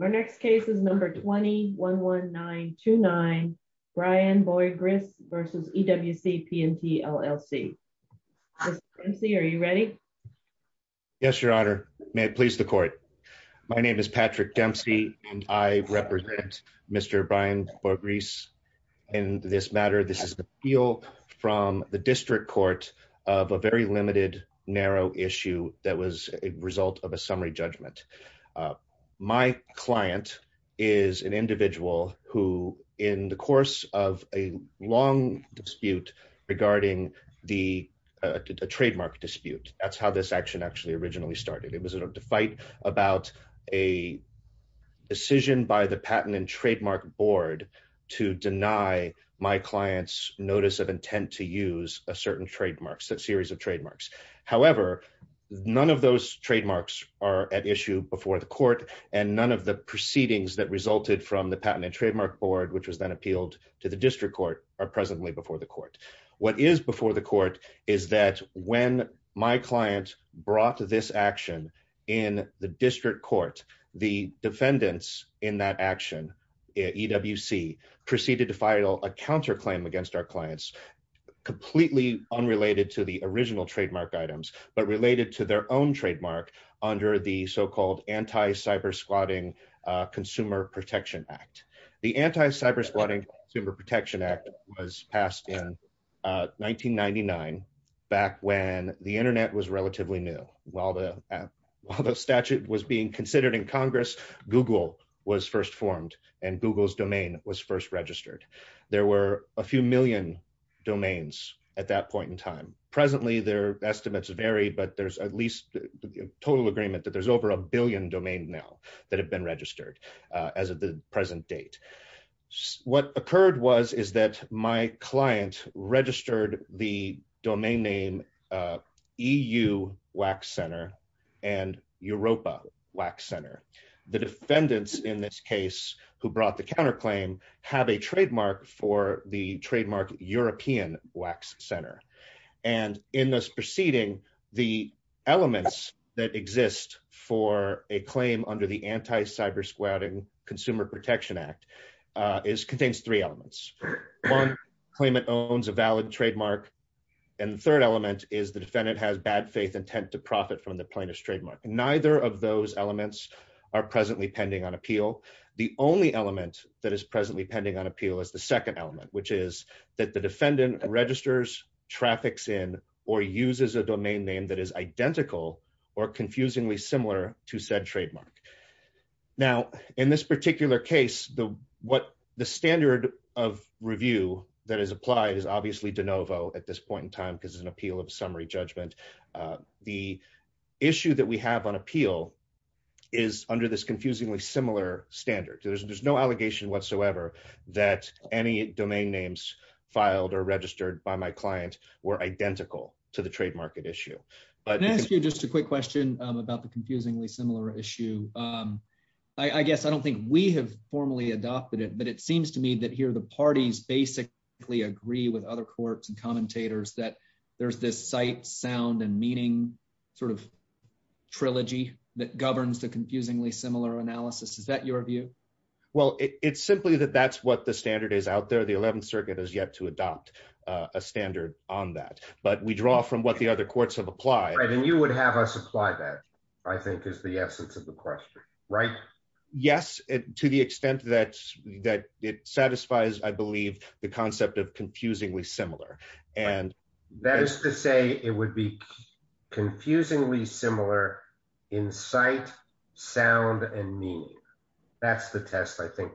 Our next case is number 20-11929, Brian Boigris v. EWC P&T, LLC. Mr. Dempsey, are you ready? Yes, Your Honor. May it please the Court. My name is Patrick Dempsey and I represent Mr. Brian Boigris in this matter. This is an appeal from the District Court of a very limited, narrow issue that was a result of a summary judgment. My client is an individual who, in the course of a long dispute regarding the trademark dispute, that's how this action actually originally started. It was a fight about a decision by the Patent and Trademark Board to deny my client's notice of none of those trademarks are at issue before the Court and none of the proceedings that resulted from the Patent and Trademark Board, which was then appealed to the District Court, are presently before the Court. What is before the Court is that when my client brought this action in the District Court, the defendants in that action, EWC, proceeded to file a counterclaim against our clients, completely unrelated to the original trademark items, but related to their own trademark under the so-called Anti-Cybersquatting Consumer Protection Act. The Anti-Cybersquatting Consumer Protection Act was passed in 1999, back when the internet was relatively new. While the statute was being considered in Congress, Google was first formed and Google's domain was first registered. There were a few million domains at that point in time. Presently, their estimates vary, but there's at least total agreement that there's over a billion domain now that have been registered as of the present date. What occurred was is that my client registered the domain name EU Wax Center and Europa Wax Center. The defendants in this case who brought the counterclaim have a trademark for the trademark European Wax Center. In this proceeding, the elements that exist for a claim under the Anti-Cybersquatting Consumer Protection Act contains three elements. One claimant owns a valid trademark. The third element is the defendant has bad faith intent to profit from the plaintiff's trademark. Neither of those elements are presently pending on appeal. The only element that is presently pending on appeal is the second element, which is that the defendant registers, traffics in, or uses a domain name that is identical or confusingly similar to said trademark. In this particular case, the standard of review that is applied is obviously de novo at this point in time because it's an appeal of summary judgment. The issue that we have on appeal is under this confusingly similar standard. There's no allegation whatsoever that any domain names filed or registered by my client were identical to the trademark issue. Can I ask you just a quick question about the confusingly similar issue? I guess I don't think we have formally adopted it, but it seems to me that here the parties basically agree with other courts and commentators that there's this sight, sound, and meaning trilogy that governs the confusingly similar analysis. Is that your view? It's simply that that's what the standard is out there. The 11th Circuit has yet to adopt a standard on that, but we draw from what the other courts have applied. You would have us apply that, I think, is the essence of the question, right? Yes, to the extent that it satisfies, I believe, the concept of confusingly similar. That is to say it would be confusingly similar in sight, sound, and meaning. That's the test, I think,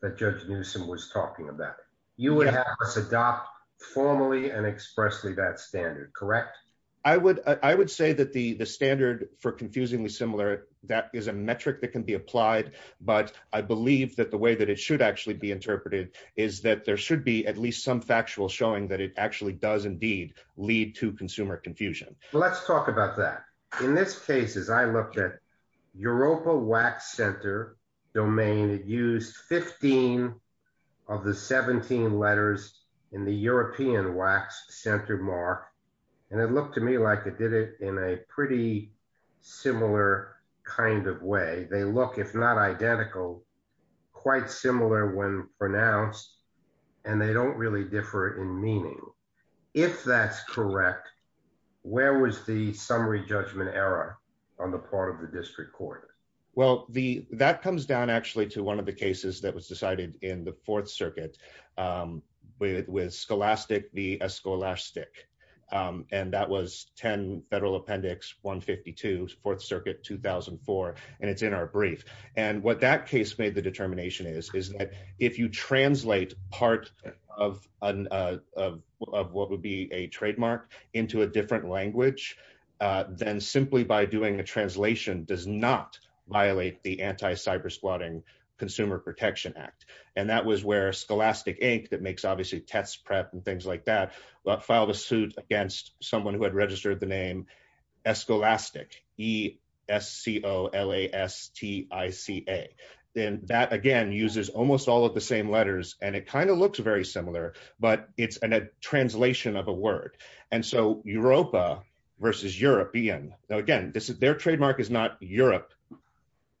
that Judge Newsom was talking about. You would have us adopt formally and expressly that standard, correct? I would say that the standard for confusingly similar, that is a metric that can be applied, but I believe that the way that it should actually be interpreted is that there should be at least some factual showing that it actually does, indeed, lead to consumer confusion. Let's talk about that. In this case, as I looked at Europa Wax Center domain, it used 15 of the 17 letters in the European Wax Center mark, and it looked to me like it did it in a pretty similar kind of way. They look, if not identical, quite similar when pronounced, and they don't really differ in meaning. If that's correct, where was the summary judgment error on the part of the district court? Well, that comes down actually to one of the cases that was decided in the Fourth Circuit with Scholastic v. Escolastic, and that was 10 Federal Appendix 152, Fourth Circuit 2004, and it's in our brief. What that case made the determination is that if you translate part of what would be a trademark into a different language, then simply by doing a translation does not violate the anti-cybersquatting Consumer Protection Act, and that was where Scholastic Inc., that makes obviously test prep and things like that, filed a suit against someone who had registered the name Escolastic, E-S-C-O-L-A-S-T-I-C-A. Then that, again, uses almost all of the same letters, and it kind of looks very similar, but it's a translation of word, and so Europa v. European. Now, again, their trademark is not Europe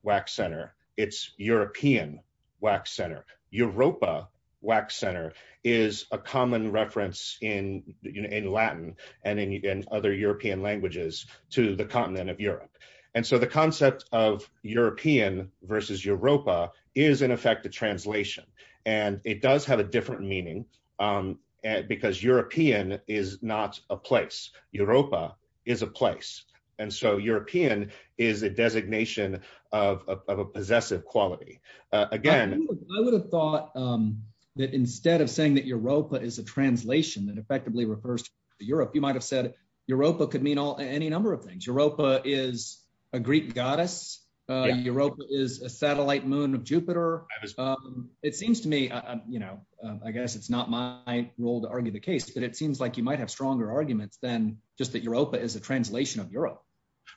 Wax Center, it's European Wax Center. Europa Wax Center is a common reference in Latin and in other European languages to the continent of Europe, and so the concept of European v. Europa is, in effect, a translation, and it does have a different meaning, because European is not a place, Europa is a place, and so European is a designation of a possessive quality. Again, I would have thought that instead of saying that Europa is a translation that effectively refers to Europe, you might have said Europa could mean any number of things. Europa is a Greek goddess, Europa is a satellite moon of Jupiter. It seems to me, I guess it's not my role to argue the case, but it seems like you might have stronger arguments than just that Europa is a translation of Europe.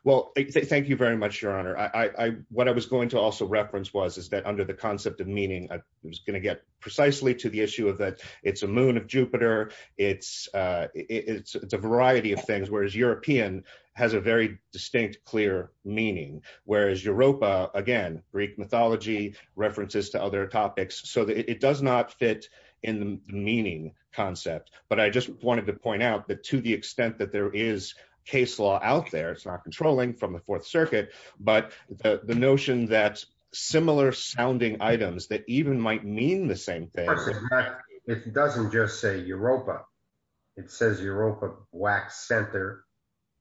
Well, thank you very much, Your Honor. What I was going to also reference was is that under the concept of meaning, I was going to get precisely to the issue of that it's a moon of Jupiter, it's a variety of things, whereas European has a very distinct, clear meaning, whereas Europa, again, Greek mythology, references to other topics, so that it does not fit in the meaning concept, but I just wanted to point out that to the extent that there is case law out there, it's not controlling from the Fourth Circuit, but the notion that similar sounding items that even might mean the same thing. It doesn't just say Europa, it says Europa wax center,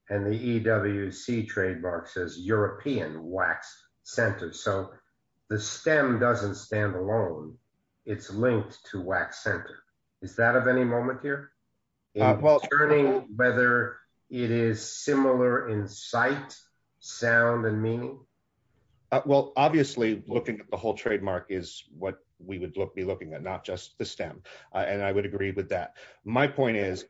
and the EWC trademark says European wax center, so the stem doesn't stand alone, it's linked to wax center. Is that of any moment here? Well, whether it is similar in sight, sound, and meaning? Well, obviously, looking at the whole trademark is what we would be looking at, not just the stem, and I would agree with that. My point is,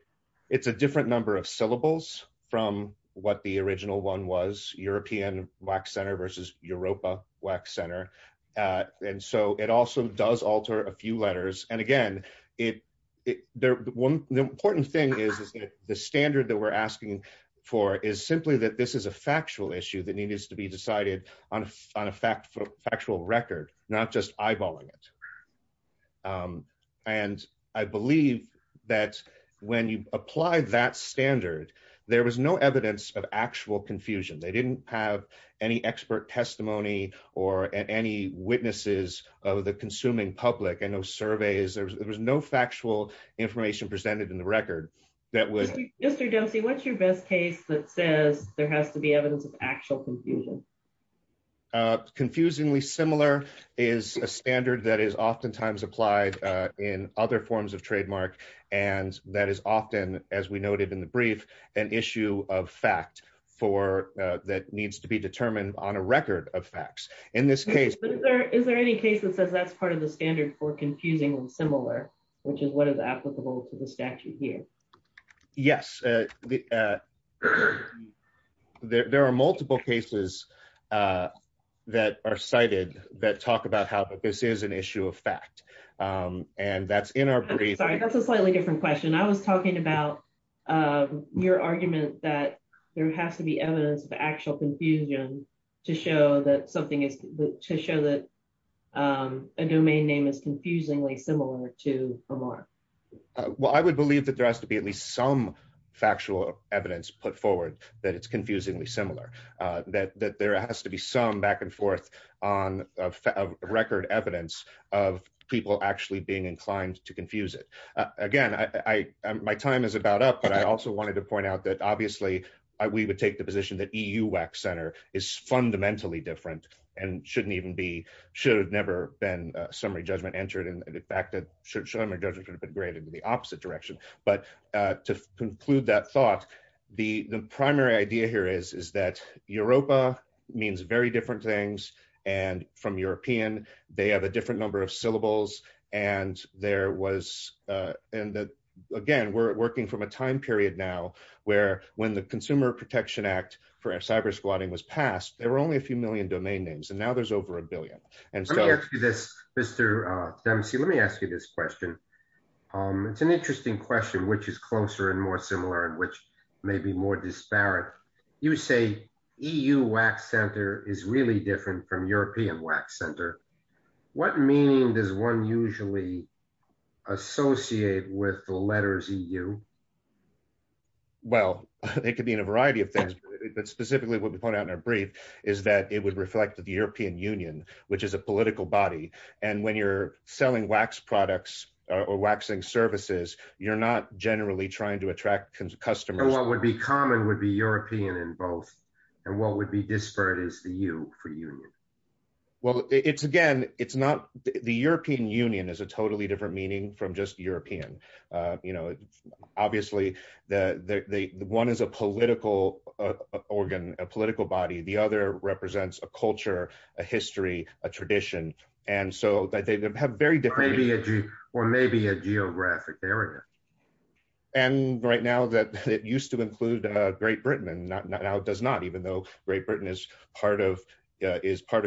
it's a different number of syllables from what the original one was, European wax center versus Europa wax center, and so it also does alter a few letters, and again, the important thing is the standard that we're asking for is simply that this is a factual issue that needs to be decided on a factual record, not just eyeballing it, and I believe that when you apply that standard, there was no evidence of actual confusion. They didn't have any expert testimony or any witnesses of the consuming public. I know surveys, there was no factual information presented in the record that would... Mr. Dempsey, what's your best case that says there has to be evidence of actual confusion? Uh, confusingly similar is a standard that is oftentimes applied in other forms of trademark, and that is often, as we noted in the brief, an issue of fact that needs to be determined on a record of facts. In this case... Is there any case that says that's part of the standard for confusingly similar, which is what is applicable to the statute here? Yes, there are multiple cases that are cited that talk about how this is an issue of fact, and that's in our brief. Sorry, that's a slightly different question. I was talking about your argument that there has to be evidence of actual confusion to show that something is... to show that a domain name is confusingly similar to a mark. Well, I would believe that there has to be at least some back and forth on record evidence of people actually being inclined to confuse it. Again, my time is about up, but I also wanted to point out that obviously we would take the position that EU wax center is fundamentally different and shouldn't even be... should have never been summary judgment entered in the fact that should have been graded in the opposite direction. But to conclude that thought, the primary idea here is that Europa means very different things and from European, they have a different number of syllables. And there was... and again, we're working from a time period now where when the Consumer Protection Act for cyber squatting was passed, there were only a few million domain names, and now there's over a billion. Let me ask you this, Mr. Dempsey. Let me ask you this question. It's an interesting question, which is closer and more similar and which may be more disparate. You say EU wax center is really different from European wax center. What meaning does one usually associate with the letters EU? Well, it could mean a variety of things, but specifically what we put out in our brief is that it would reflect the European Union, which is a political body. And when you're selling wax products or waxing services, you're not generally trying to attract customers. And what would be common would be European in both. And what would be disparate is the U for union. Well, it's again, it's not... the European Union is a totally different meaning from just represents a culture, a history, a tradition. And so they have very different... Or maybe a geographic area. And right now that it used to include Great Britain and now it does not, even though Great Britain is part of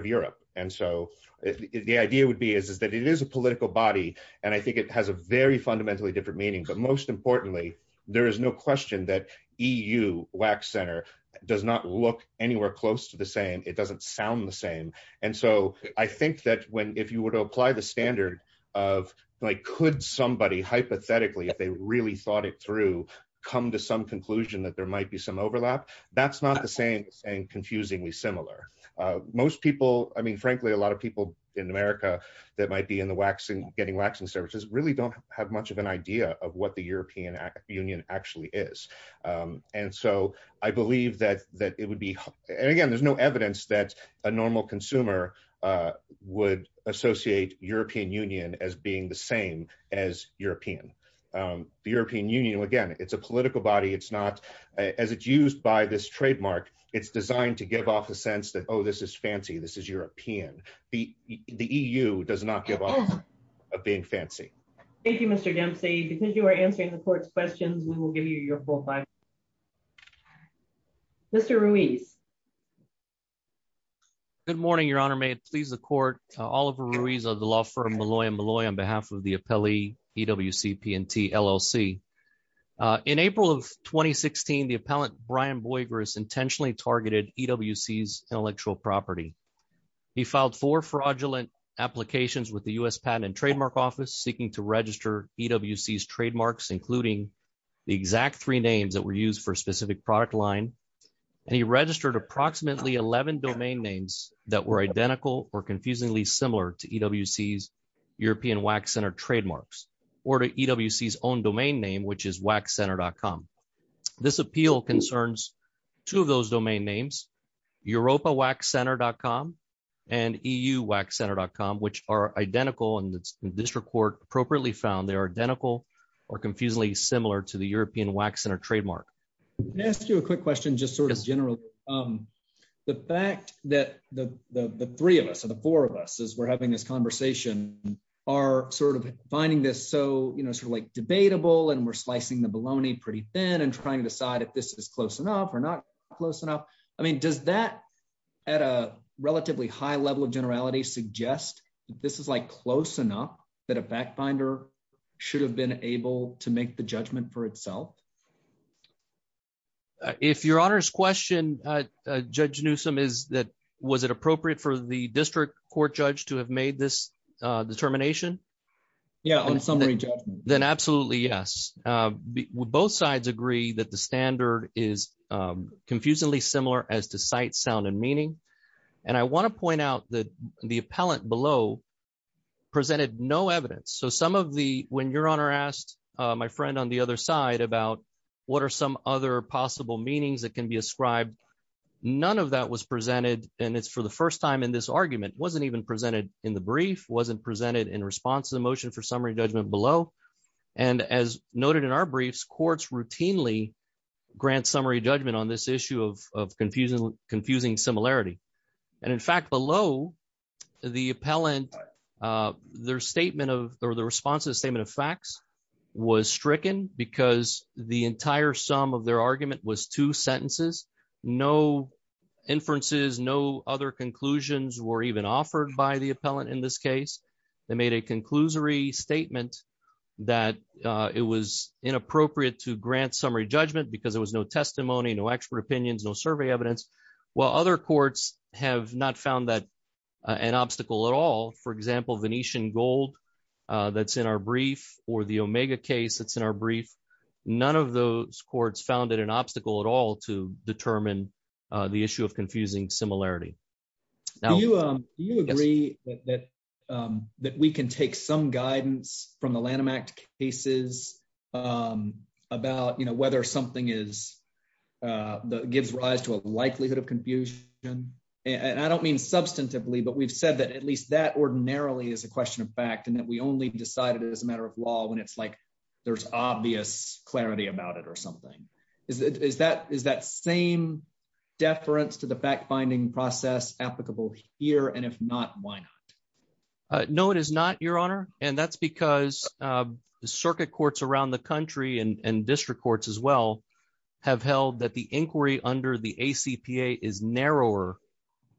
Europe. And so the idea would be is that it is a political body. And I think it has a very fundamentally different meaning. But most importantly, there is no question that EU wax center does not look anywhere close to the same. It doesn't sound the same. And so I think that when, if you were to apply the standard of like, could somebody hypothetically, if they really thought it through, come to some conclusion that there might be some overlap, that's not the same and confusingly similar. Most people, I mean, frankly, a lot of people in America that might be in the waxing, getting waxing services really don't have much of an idea of what the European Union actually is. And so I believe that it would be... And again, there's no evidence that a normal consumer would associate European Union as being the same as European. The European Union, again, it's a political body. It's not... As it's used by this trademark, it's designed to give off a sense that, oh, this is fancy. This is European. The EU does not give off a big fancy. Thank you, Mr. Dempsey. Because you are answering the court's questions, we will give you your full five minutes. Mr. Ruiz. Good morning, Your Honor. May it please the court. Oliver Ruiz of the law firm Malloy & Malloy on behalf of the appellee EWCP&T LLC. In April of 2016, the appellant Brian Boigris intentionally targeted EWC's intellectual property. He filed four fraudulent applications with the U.S. Patent and Trademark Office seeking to register EWC's trademarks, including the exact three names that were used for a specific product line. And he registered approximately 11 domain names that were identical or confusingly similar to EWC's European Wax Center trademarks or to EWC's own names, EuropaWaxCenter.com and EUWaxCenter.com, which are identical and the district court appropriately found they are identical or confusingly similar to the European Wax Center trademark. Can I ask you a quick question just sort of generally? The fact that the three of us or the four of us as we're having this conversation are sort of finding this so, you know, sort of like debatable and we're slicing the bologna pretty thin and trying to decide if this is close enough. I mean, does that at a relatively high level of generality suggest that this is like close enough that a backbinder should have been able to make the judgment for itself? If your honor's question, Judge Newsom, is that was it appropriate for the district court judge to have made this determination? Yeah, on summary judgment. Then absolutely yes. Both sides agree that the standard is confusingly similar as to sight, sound, and meaning. And I want to point out that the appellant below presented no evidence. So some of the, when your honor asked my friend on the other side about what are some other possible meanings that can be ascribed, none of that was presented and it's for the first time in this argument, wasn't even presented in the brief, wasn't presented in response to the motion for summary judgment below. And as noted in our briefs, courts routinely grant summary judgment on this issue of confusing similarity. And in fact, below the appellant, their statement of, or the response to the statement of facts was stricken because the entire sum of their argument was two sentences, no inferences, no other conclusions were even offered by the appellant in this case. They made a conclusory statement that it was inappropriate to grant summary judgment because there was no testimony, no expert opinions, no survey evidence, while other courts have not found that an obstacle at all. For example, Venetian gold that's in our brief or the Omega case that's in our brief, none of those courts found it an obstacle at all to determine the issue of confusing similarity. Do you agree that we can take some guidance from the Lanham Act cases about whether something gives rise to a likelihood of confusion? And I don't mean substantively, but we've said that at least that ordinarily is a question of fact and that we only decided it as a matter of law when it's like there's obvious clarity about it or something. Is that same deference to the fact-finding process applicable here? And if not, why not? No, it is not, Your Honor. And that's because circuit courts around the country and district courts as well have held that the inquiry under the ACPA is narrower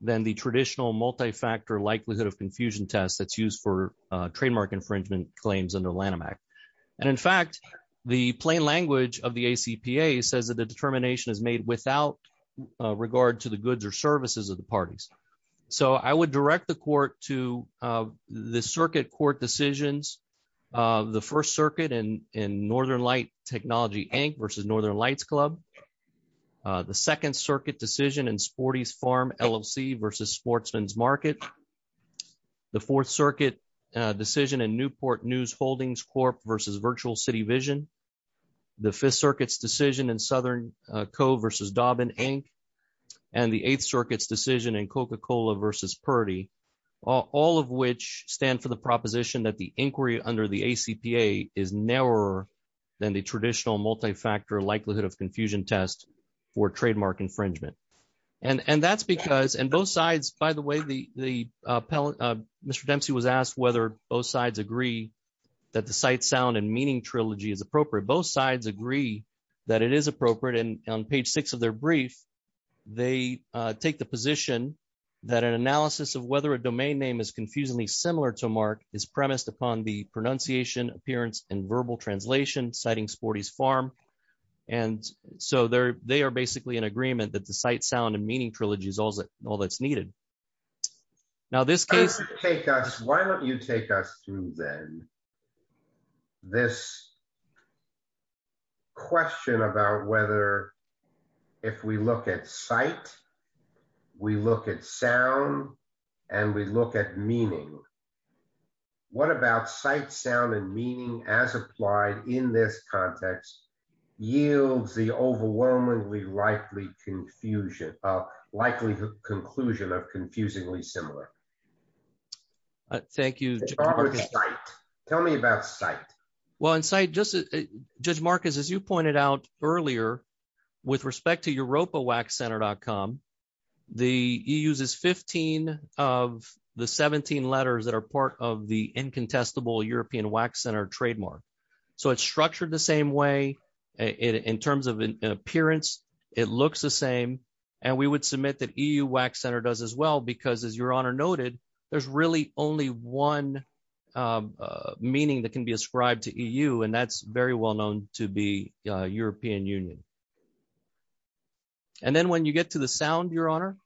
than the traditional multi-factor likelihood of confusion test that's used for trademark infringement claims under Lanham Act. And in fact, the plain language of the ACPA says that the determination is made without regard to the goods or services of the parties. So I would direct the court to the circuit court decisions of the First Circuit and in Northern Light Technology Inc. versus Northern Lights Club, the Second Circuit decision in Sporty's Farm LLC versus Sportsman's Market, the Fourth Circuit decision in Newport News Holdings Corp. versus Virtual City Vision, the Fifth Circuit's decision in Southern Co. versus Dauben Inc. and the Eighth Circuit's decision in Coca-Cola versus Purdy, all of which stand for the proposition that the inquiry under the ACPA is narrower than the traditional multi-factor likelihood of confusion test for trademark infringement. And that's because, and both sides, by the way, Mr. Dempsey was asked whether both sides agree that the Cite, Sound, and Meaning trilogy is appropriate. Both sides agree that it is appropriate, and on page six of their brief, they take the position that an analysis of whether a domain name is confusingly similar to Mark is premised upon the pronunciation, appearance, and verbal translation citing Sporty's Farm. And so they are basically in agreement that the Cite, Sound, and Meaning trilogy is all that's needed. Now, this case- Why don't you take us, why don't you take us through then this question about whether, if we look at Cite, we look at Sound, and we look at Meaning. What about Cite, Sound, and Meaning as applied in this context yields the overwhelmingly likely conclusion of confusingly similar? Thank you. Tell me about Cite. Well, in Cite, Judge Marcus, as you pointed out earlier, with respect to europawaxcenter.com, he uses 15 of the 17 letters that are part of the incontestable European Wax Center trademark. So it's structured the same way. In terms of an appearance, it looks the same. And we would submit that EU Wax Center does as well, because as your honor noted, there's really only one meaning that can be ascribed to EU, and that's very well known to be European Union. And then when you get to the Sound, your honor,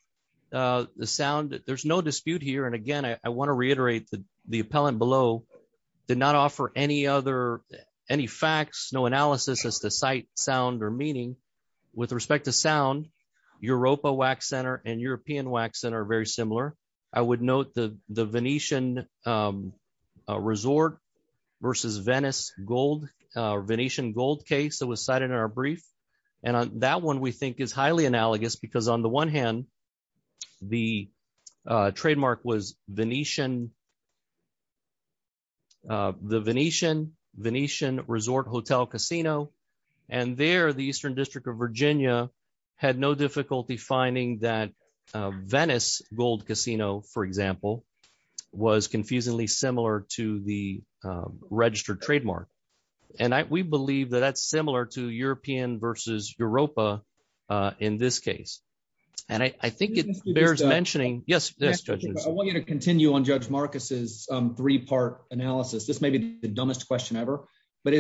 the Sound, there's no dispute here. And again, I want to reiterate that the appellant below did not offer any facts, no analysis as to Cite, Sound, or Meaning. With respect to Sound, Europa Wax Center and European Wax Center are very similar. I would note the Venetian Resort versus Venice Gold, Venetian Gold case that was cited in our brief. And that one we think is highly analogous, because on the one hand, the trademark was the Venetian Resort Hotel Casino. And there, the Eastern District of Virginia had no difficulty finding that Venice Gold Casino, for example, was confusingly similar to the registered trademark. And we believe that that's similar to European versus Europa in this case. And I think it bears mentioning... Yes, Judge Newsom. I want you to continue on Judge Marcus's three-part analysis. This may be the dumbest question ever. But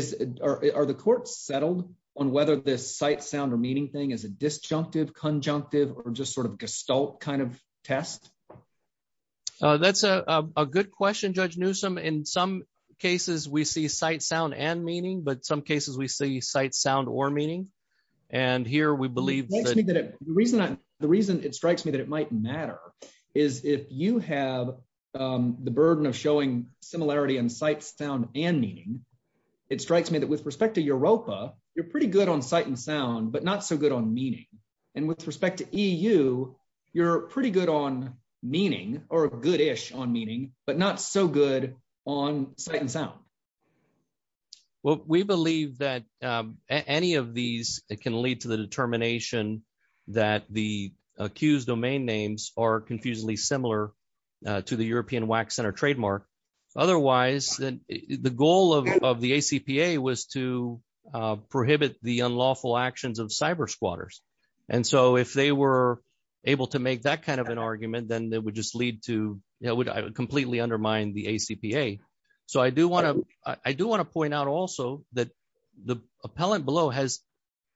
are the courts settled on whether this Cite, Sound, or Meaning thing is a disjunctive, conjunctive, or just sort of gestalt kind of test? That's a good question, Judge Newsom. In some cases, we see Cite, Sound, and Meaning, but some cases we see Cite, Sound, or Meaning. And here, we believe... The reason it strikes me that it might matter is if you have the burden of showing similarity in Cite, Sound, and Meaning, it strikes me that with respect to Europa, you're pretty good on Cite, and Sound, but not so good on Meaning. And with respect to EU, you're pretty good on Meaning, or good-ish on Meaning, but not so good on Cite, and Sound. Well, we believe that any of these can lead to the determination that the accused domain names are confusingly similar to the European WAC Center trademark. Otherwise, the goal of the ACPA was to prohibit the unlawful actions of cyber squatters. And so, if they were able to make that kind of an argument, then that would just lead to... It would completely undermine the ACPA. So, I do want to point out also that the appellant below has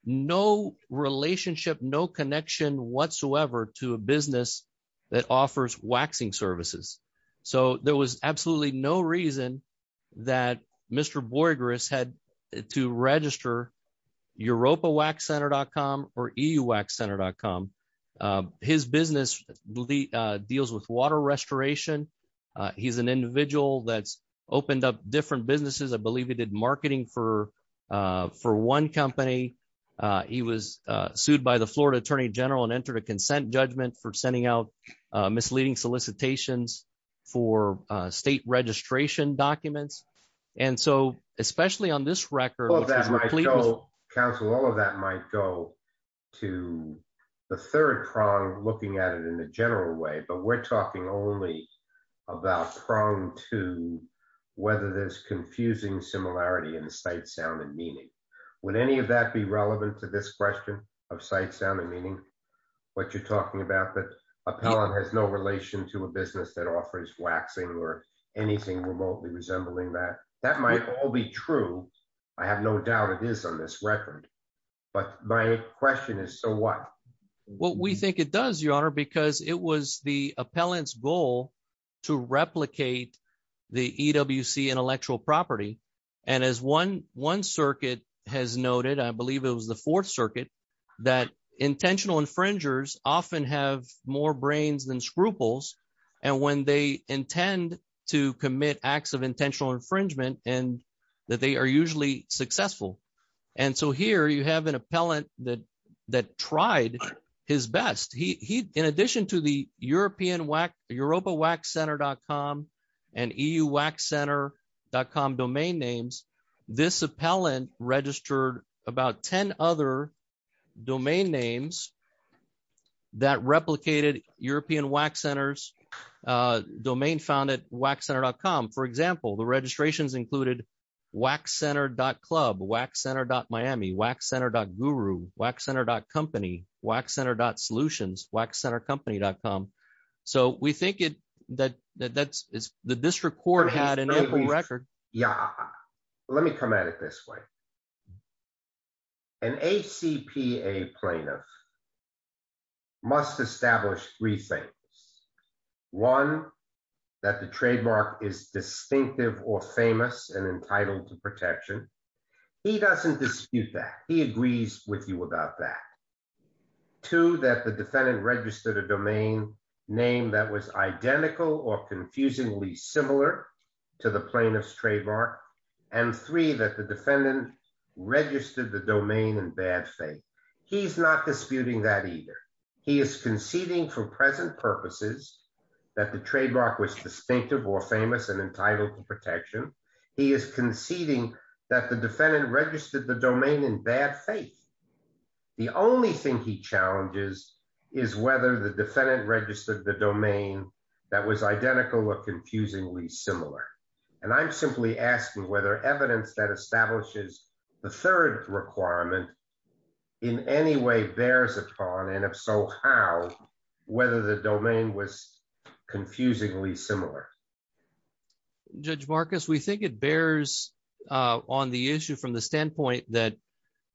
no relationship, no connection whatsoever to a business that offers waxing services. So, there was absolutely no reason that Mr. Borges had to register EuropaWaxCenter.com or EUWaxCenter.com. His business deals with water restoration. He's an individual that's opened up different businesses. I believe he did marketing for one company. He was sued by the Florida Attorney General and entered a consent judgment for sending out misleading solicitations for state registration documents. And so, especially on this record... Counsel, all of that might go to the third prong looking at it in a general way, but we're talking only about prong two, whether there's confusing similarity in the sight, sound, and meaning. Would any of that be relevant to this question of sight, sound, and meaning? What you're talking about that appellant has no relation to a business that offers waxing or anything remotely resembling that, that might all be true. I have no doubt it is on this record, but my question is, so what? Well, we think it does, Your Honor, because it was the appellant's goal to replicate the EWC intellectual property. And as one circuit has noted, I believe it was the fourth circuit, that intentional infringers often have more brains than scruples. And when they intend to commit acts of intentional infringement, that they are usually successful. And so here you have an appellant that tried his best. In addition to the europawaxcenter.com and euwaxcenter.com domain names, this appellant registered about 10 other domain names that replicated European wax centers, domain found at waxcenter.com. For example, the registrations included waxcenter.club, waxcenter.miami, waxcenter.guru, waxcenter.company, waxcenter.solutions, waxcentercompany.com. So we think that the district court had an ample record. Yeah, let me come at it this way. An ACPA plaintiff must establish three things. One, that the trademark is distinctive or famous and entitled to protection. He doesn't dispute that. He agrees with you about that. Two, that the defendant registered a domain name that was identical or confusingly similar to the plaintiff's trademark. And three, that the defendant registered the domain in bad faith. He's not disputing that either. He is conceding for present purposes that the trademark was distinctive or famous and entitled to protection. He is conceding that the defendant registered the domain in bad faith. The only thing he challenges is whether the defendant registered the domain that was identical or confusingly similar. And I'm simply asking whether evidence that establishes the third requirement in any way bears upon, and if so, how, whether the domain was confusingly similar. Judge Marcus, we think it bears on the issue from the standpoint that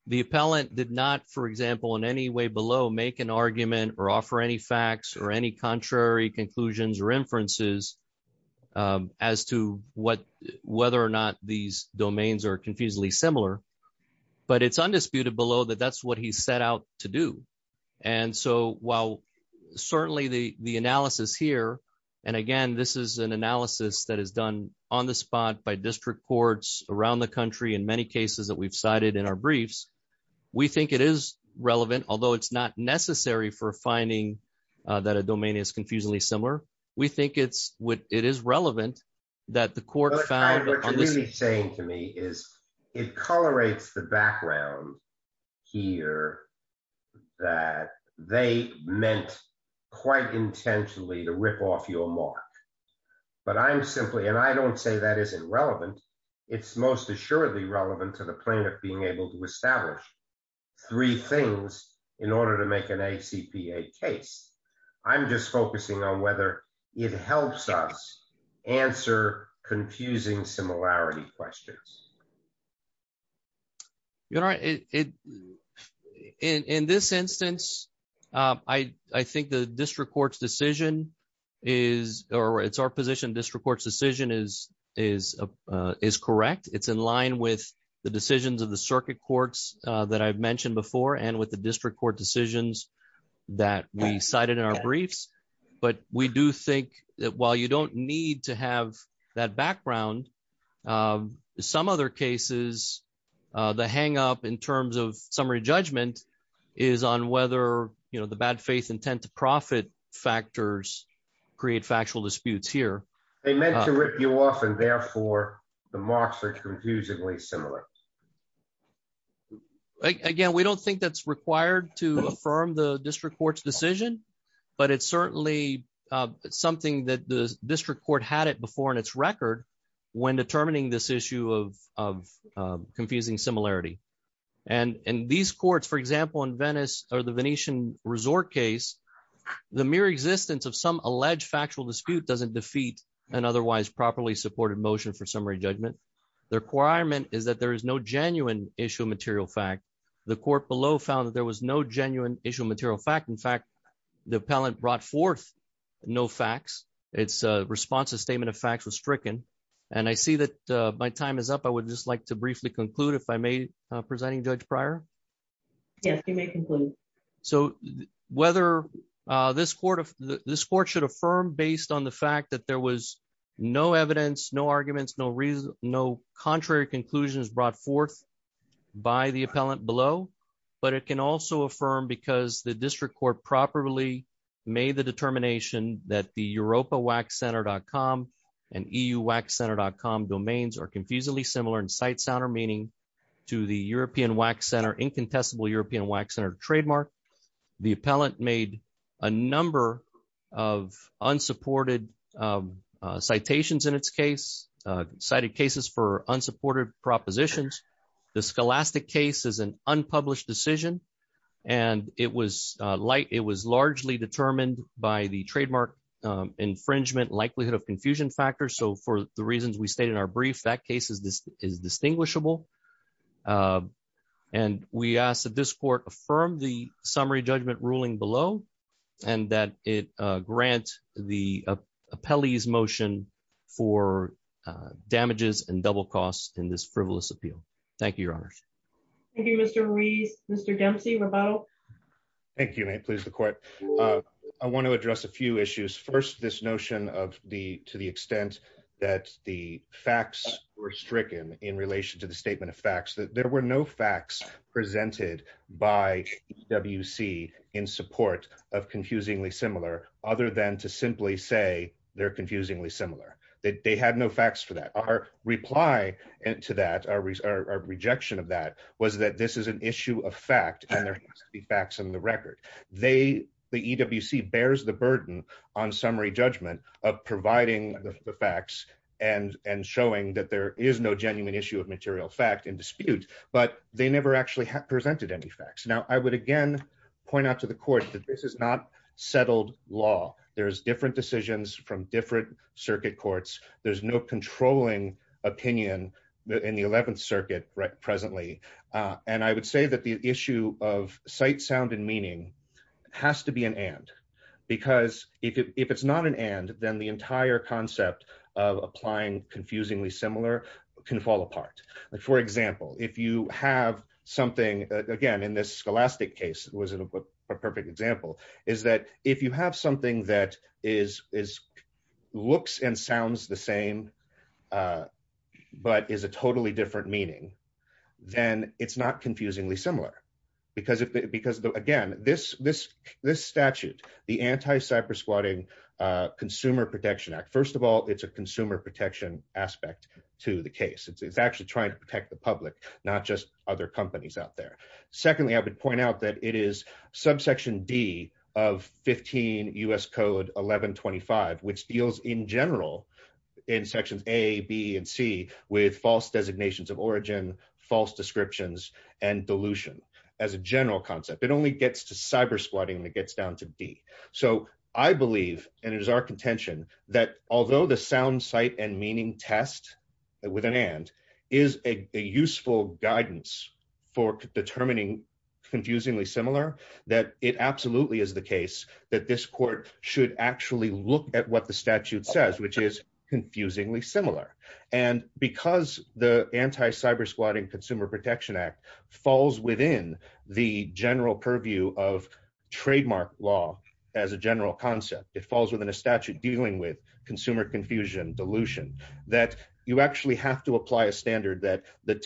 the appellant did not, for example, in any way below make an argument or offer any facts or any contrary conclusions or inferences as to whether or not these domains are confusingly similar. But it's undisputed below that that's what he set out to do. And so while certainly the analysis here, and again, this is an analysis that is done on the spot by district courts around the country, in many cases that we've cited in our briefs, we think it is relevant, although it's not necessary for finding that a domain is confusingly similar. We think it is relevant that the court found- What you're really saying to me is it colorates the background here that they meant quite intentionally to rip off your mark. But I'm simply, and I don't say that isn't relevant, it's most assuredly relevant to the plaintiff being able to establish three things in order to make an ACPA case. I'm just focusing on whether it helps us answer confusing similarity questions. You're right. In this instance, I think the district court's decision is, or it's our position district court's decision is correct. It's in line with the decisions of the circuit courts that I've mentioned before and with the district court decisions that we cited in our cases. The hang up in terms of summary judgment is on whether the bad faith intent to profit factors create factual disputes here. They meant to rip you off and therefore the marks are confusingly similar. Again, we don't think that's required to affirm the district court's decision, but it's certainly something that the district court had it before in its record when determining this issue of confusing similarity. And these courts, for example, in Venice or the Venetian resort case, the mere existence of some alleged factual dispute doesn't defeat an otherwise properly supported motion for summary judgment. The requirement is that there is no genuine issue of material fact. The court below found that there was no genuine issue of material fact. In fact, the appellant brought forth no facts. Its response to statement of and I see that my time is up. I would just like to briefly conclude if I may presenting Judge prior. Yes, you may conclude. So whether this court of this court should affirm based on the fact that there was no evidence, no arguments, no reason, no contrary conclusions brought forth by the appellant below. But it can also affirm because the district court properly made the determination that the Europa Wax Center dot com and EU Wax Center dot com domains are confusingly similar in sight, sound or meaning to the European Wax Center, incontestable European Wax Center trademark. The appellant made a number of unsupported citations in its case, cited cases for unsupported propositions. The scholastic case is an unpublished decision, and it was like it was largely determined by the trademark infringement likelihood of confusion factor. So for the reasons we state in our brief, that case is distinguishable. And we ask that this court affirm the summary judgment ruling below and that it grant the appellees motion for damages and double costs in this frivolous appeal. Thank you, Your Honor. Thank you, Mr. Ruiz. Mr. Dempsey. Thank you. May it please the court. I want to address a few issues. First, this notion of the to the extent that the facts were stricken in relation to the statement of facts, that there were no facts presented by WC in support of confusingly similar other than to simply say they're confusingly similar, that they had no facts that our reply to that, our rejection of that was that this is an issue of fact, and there has to be facts in the record. They, the EWC bears the burden on summary judgment of providing the facts and and showing that there is no genuine issue of material fact and dispute, but they never actually have presented any facts. Now I would again, point out to the court that this is not settled law. There's different decisions from different circuit courts. There's no controlling opinion in the 11th circuit presently. And I would say that the issue of sight, sound, and meaning has to be an and, because if it's not an and, then the entire concept of applying confusingly similar can fall apart. For example, if you have something, again, in this scholastic case was a perfect example, is that if you have something that is looks and sounds the same, but is a totally different meaning, then it's not confusingly similar. Because, again, this statute, the anti-cybersquatting Consumer Protection Act, first of all, it's a consumer protection aspect to the case. It's actually trying to protect the public, not just other companies out there. Secondly, I would point out that it is subsection D of 15 U.S. Code 1125, which deals in general in sections A, B, and C with false designations of origin, false descriptions, and dilution as a general concept. It only gets to cybersquatting when it gets down to D. So I believe, and it is our contention, that although the sound, sight, and meaning test with an and is a useful guidance for determining confusingly similar, that it absolutely is the case that this court should actually look at what the statute says, which is confusingly similar. And because the anti-cybersquatting Consumer Protection Act falls within the general purview of trademark law as a general concept, it falls within a statute dealing with consumer confusion, dilution, that you actually have to apply a standard that the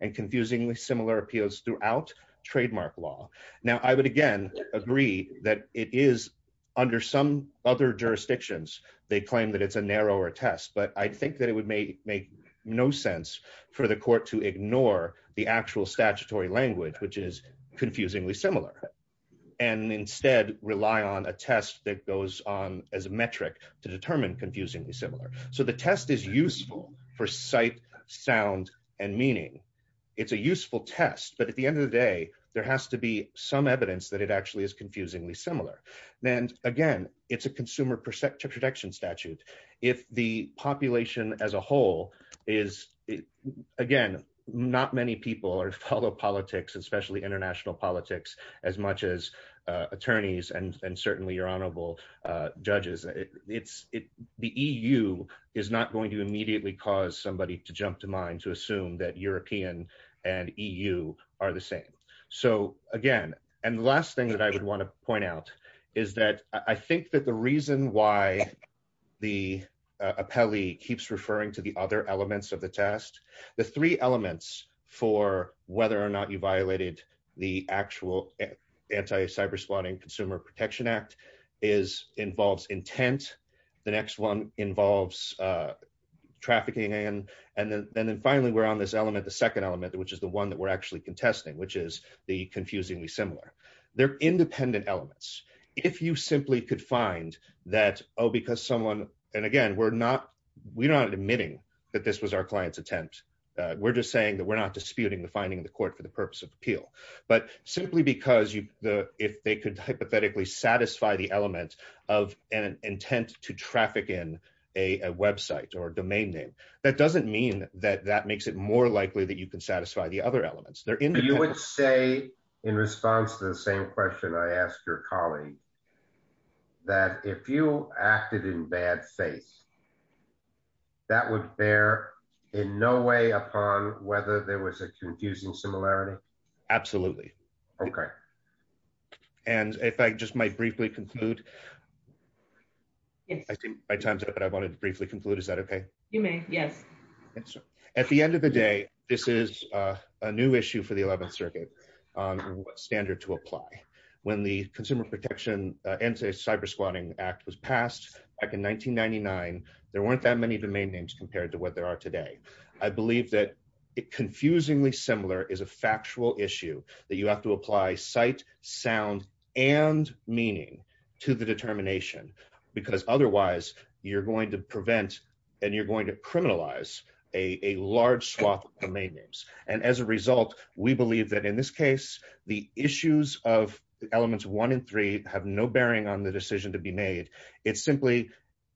and confusingly similar appeals throughout trademark law. Now, I would again agree that it is under some other jurisdictions, they claim that it's a narrower test, but I think that it would make no sense for the court to ignore the actual statutory language, which is confusingly similar, and instead rely on a test that goes on as a metric to determine confusingly similar. So the test is useful for sight, sound, and meaning. It's a useful test, but at the end of the day, there has to be some evidence that it actually is confusingly similar. Then again, it's a consumer protection statute. If the population as a whole is, again, not many people follow politics, especially international politics, as much as attorneys and certainly your honorable judges, the EU is not going to immediately cause somebody to jump to mind to assume that European and EU are the same. So again, and the last thing that I would want to point out is that I think that the reason why the appellee keeps referring to the other elements of the test, the three elements for whether or not you violated the actual Anti-Cyberspotting Consumer Protection Act involves intent, the next one involves trafficking, and then finally we're on this element, the second element, which is the one that we're actually contesting, which is the confusingly similar. They're independent elements. If you simply could find that, oh, because someone, and again, we're not admitting that this was our client's attempt. We're just saying that we're not disputing the finding in the court for the purpose of appeal, but simply because if they could hypothetically satisfy the element of an intent to traffic in a website or a domain name, that doesn't mean that that makes it more likely that you can satisfy the other elements. They're independent. You would say in response to the same question I asked your colleague, that if you acted in bad faith, that would bear in no way upon whether there was a confusing similarity. Absolutely. Okay. And if I just might briefly conclude, I think my time's up, but I wanted to briefly conclude. Is that okay? You may. Yes. At the end of the day, this is a new issue for the 11th Circuit on what standard to apply. When the Consumer Protection Anti-Cyberspotting Act was passed back in 1999, there weren't that many domain names compared to what there are today. I believe that confusingly similar is a factual issue that you have to apply sight, sound, and meaning to the determination, because otherwise you're going to prevent and you're going to criminalize a large swath of domain names. And as a result, we believe that in this case, the issues of elements one and three have no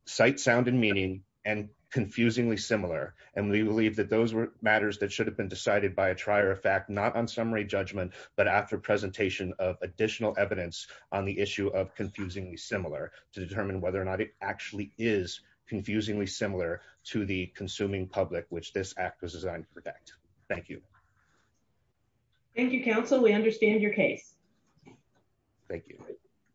sight, sound, and meaning and confusingly similar. And we believe that those were matters that should have been decided by a trier of fact, not on summary judgment, but after presentation of additional evidence on the issue of confusingly similar to determine whether or not it actually is confusingly similar to the consuming public, which this act was designed to protect. Thank you. Thank you, counsel. We understand your case. Thank you.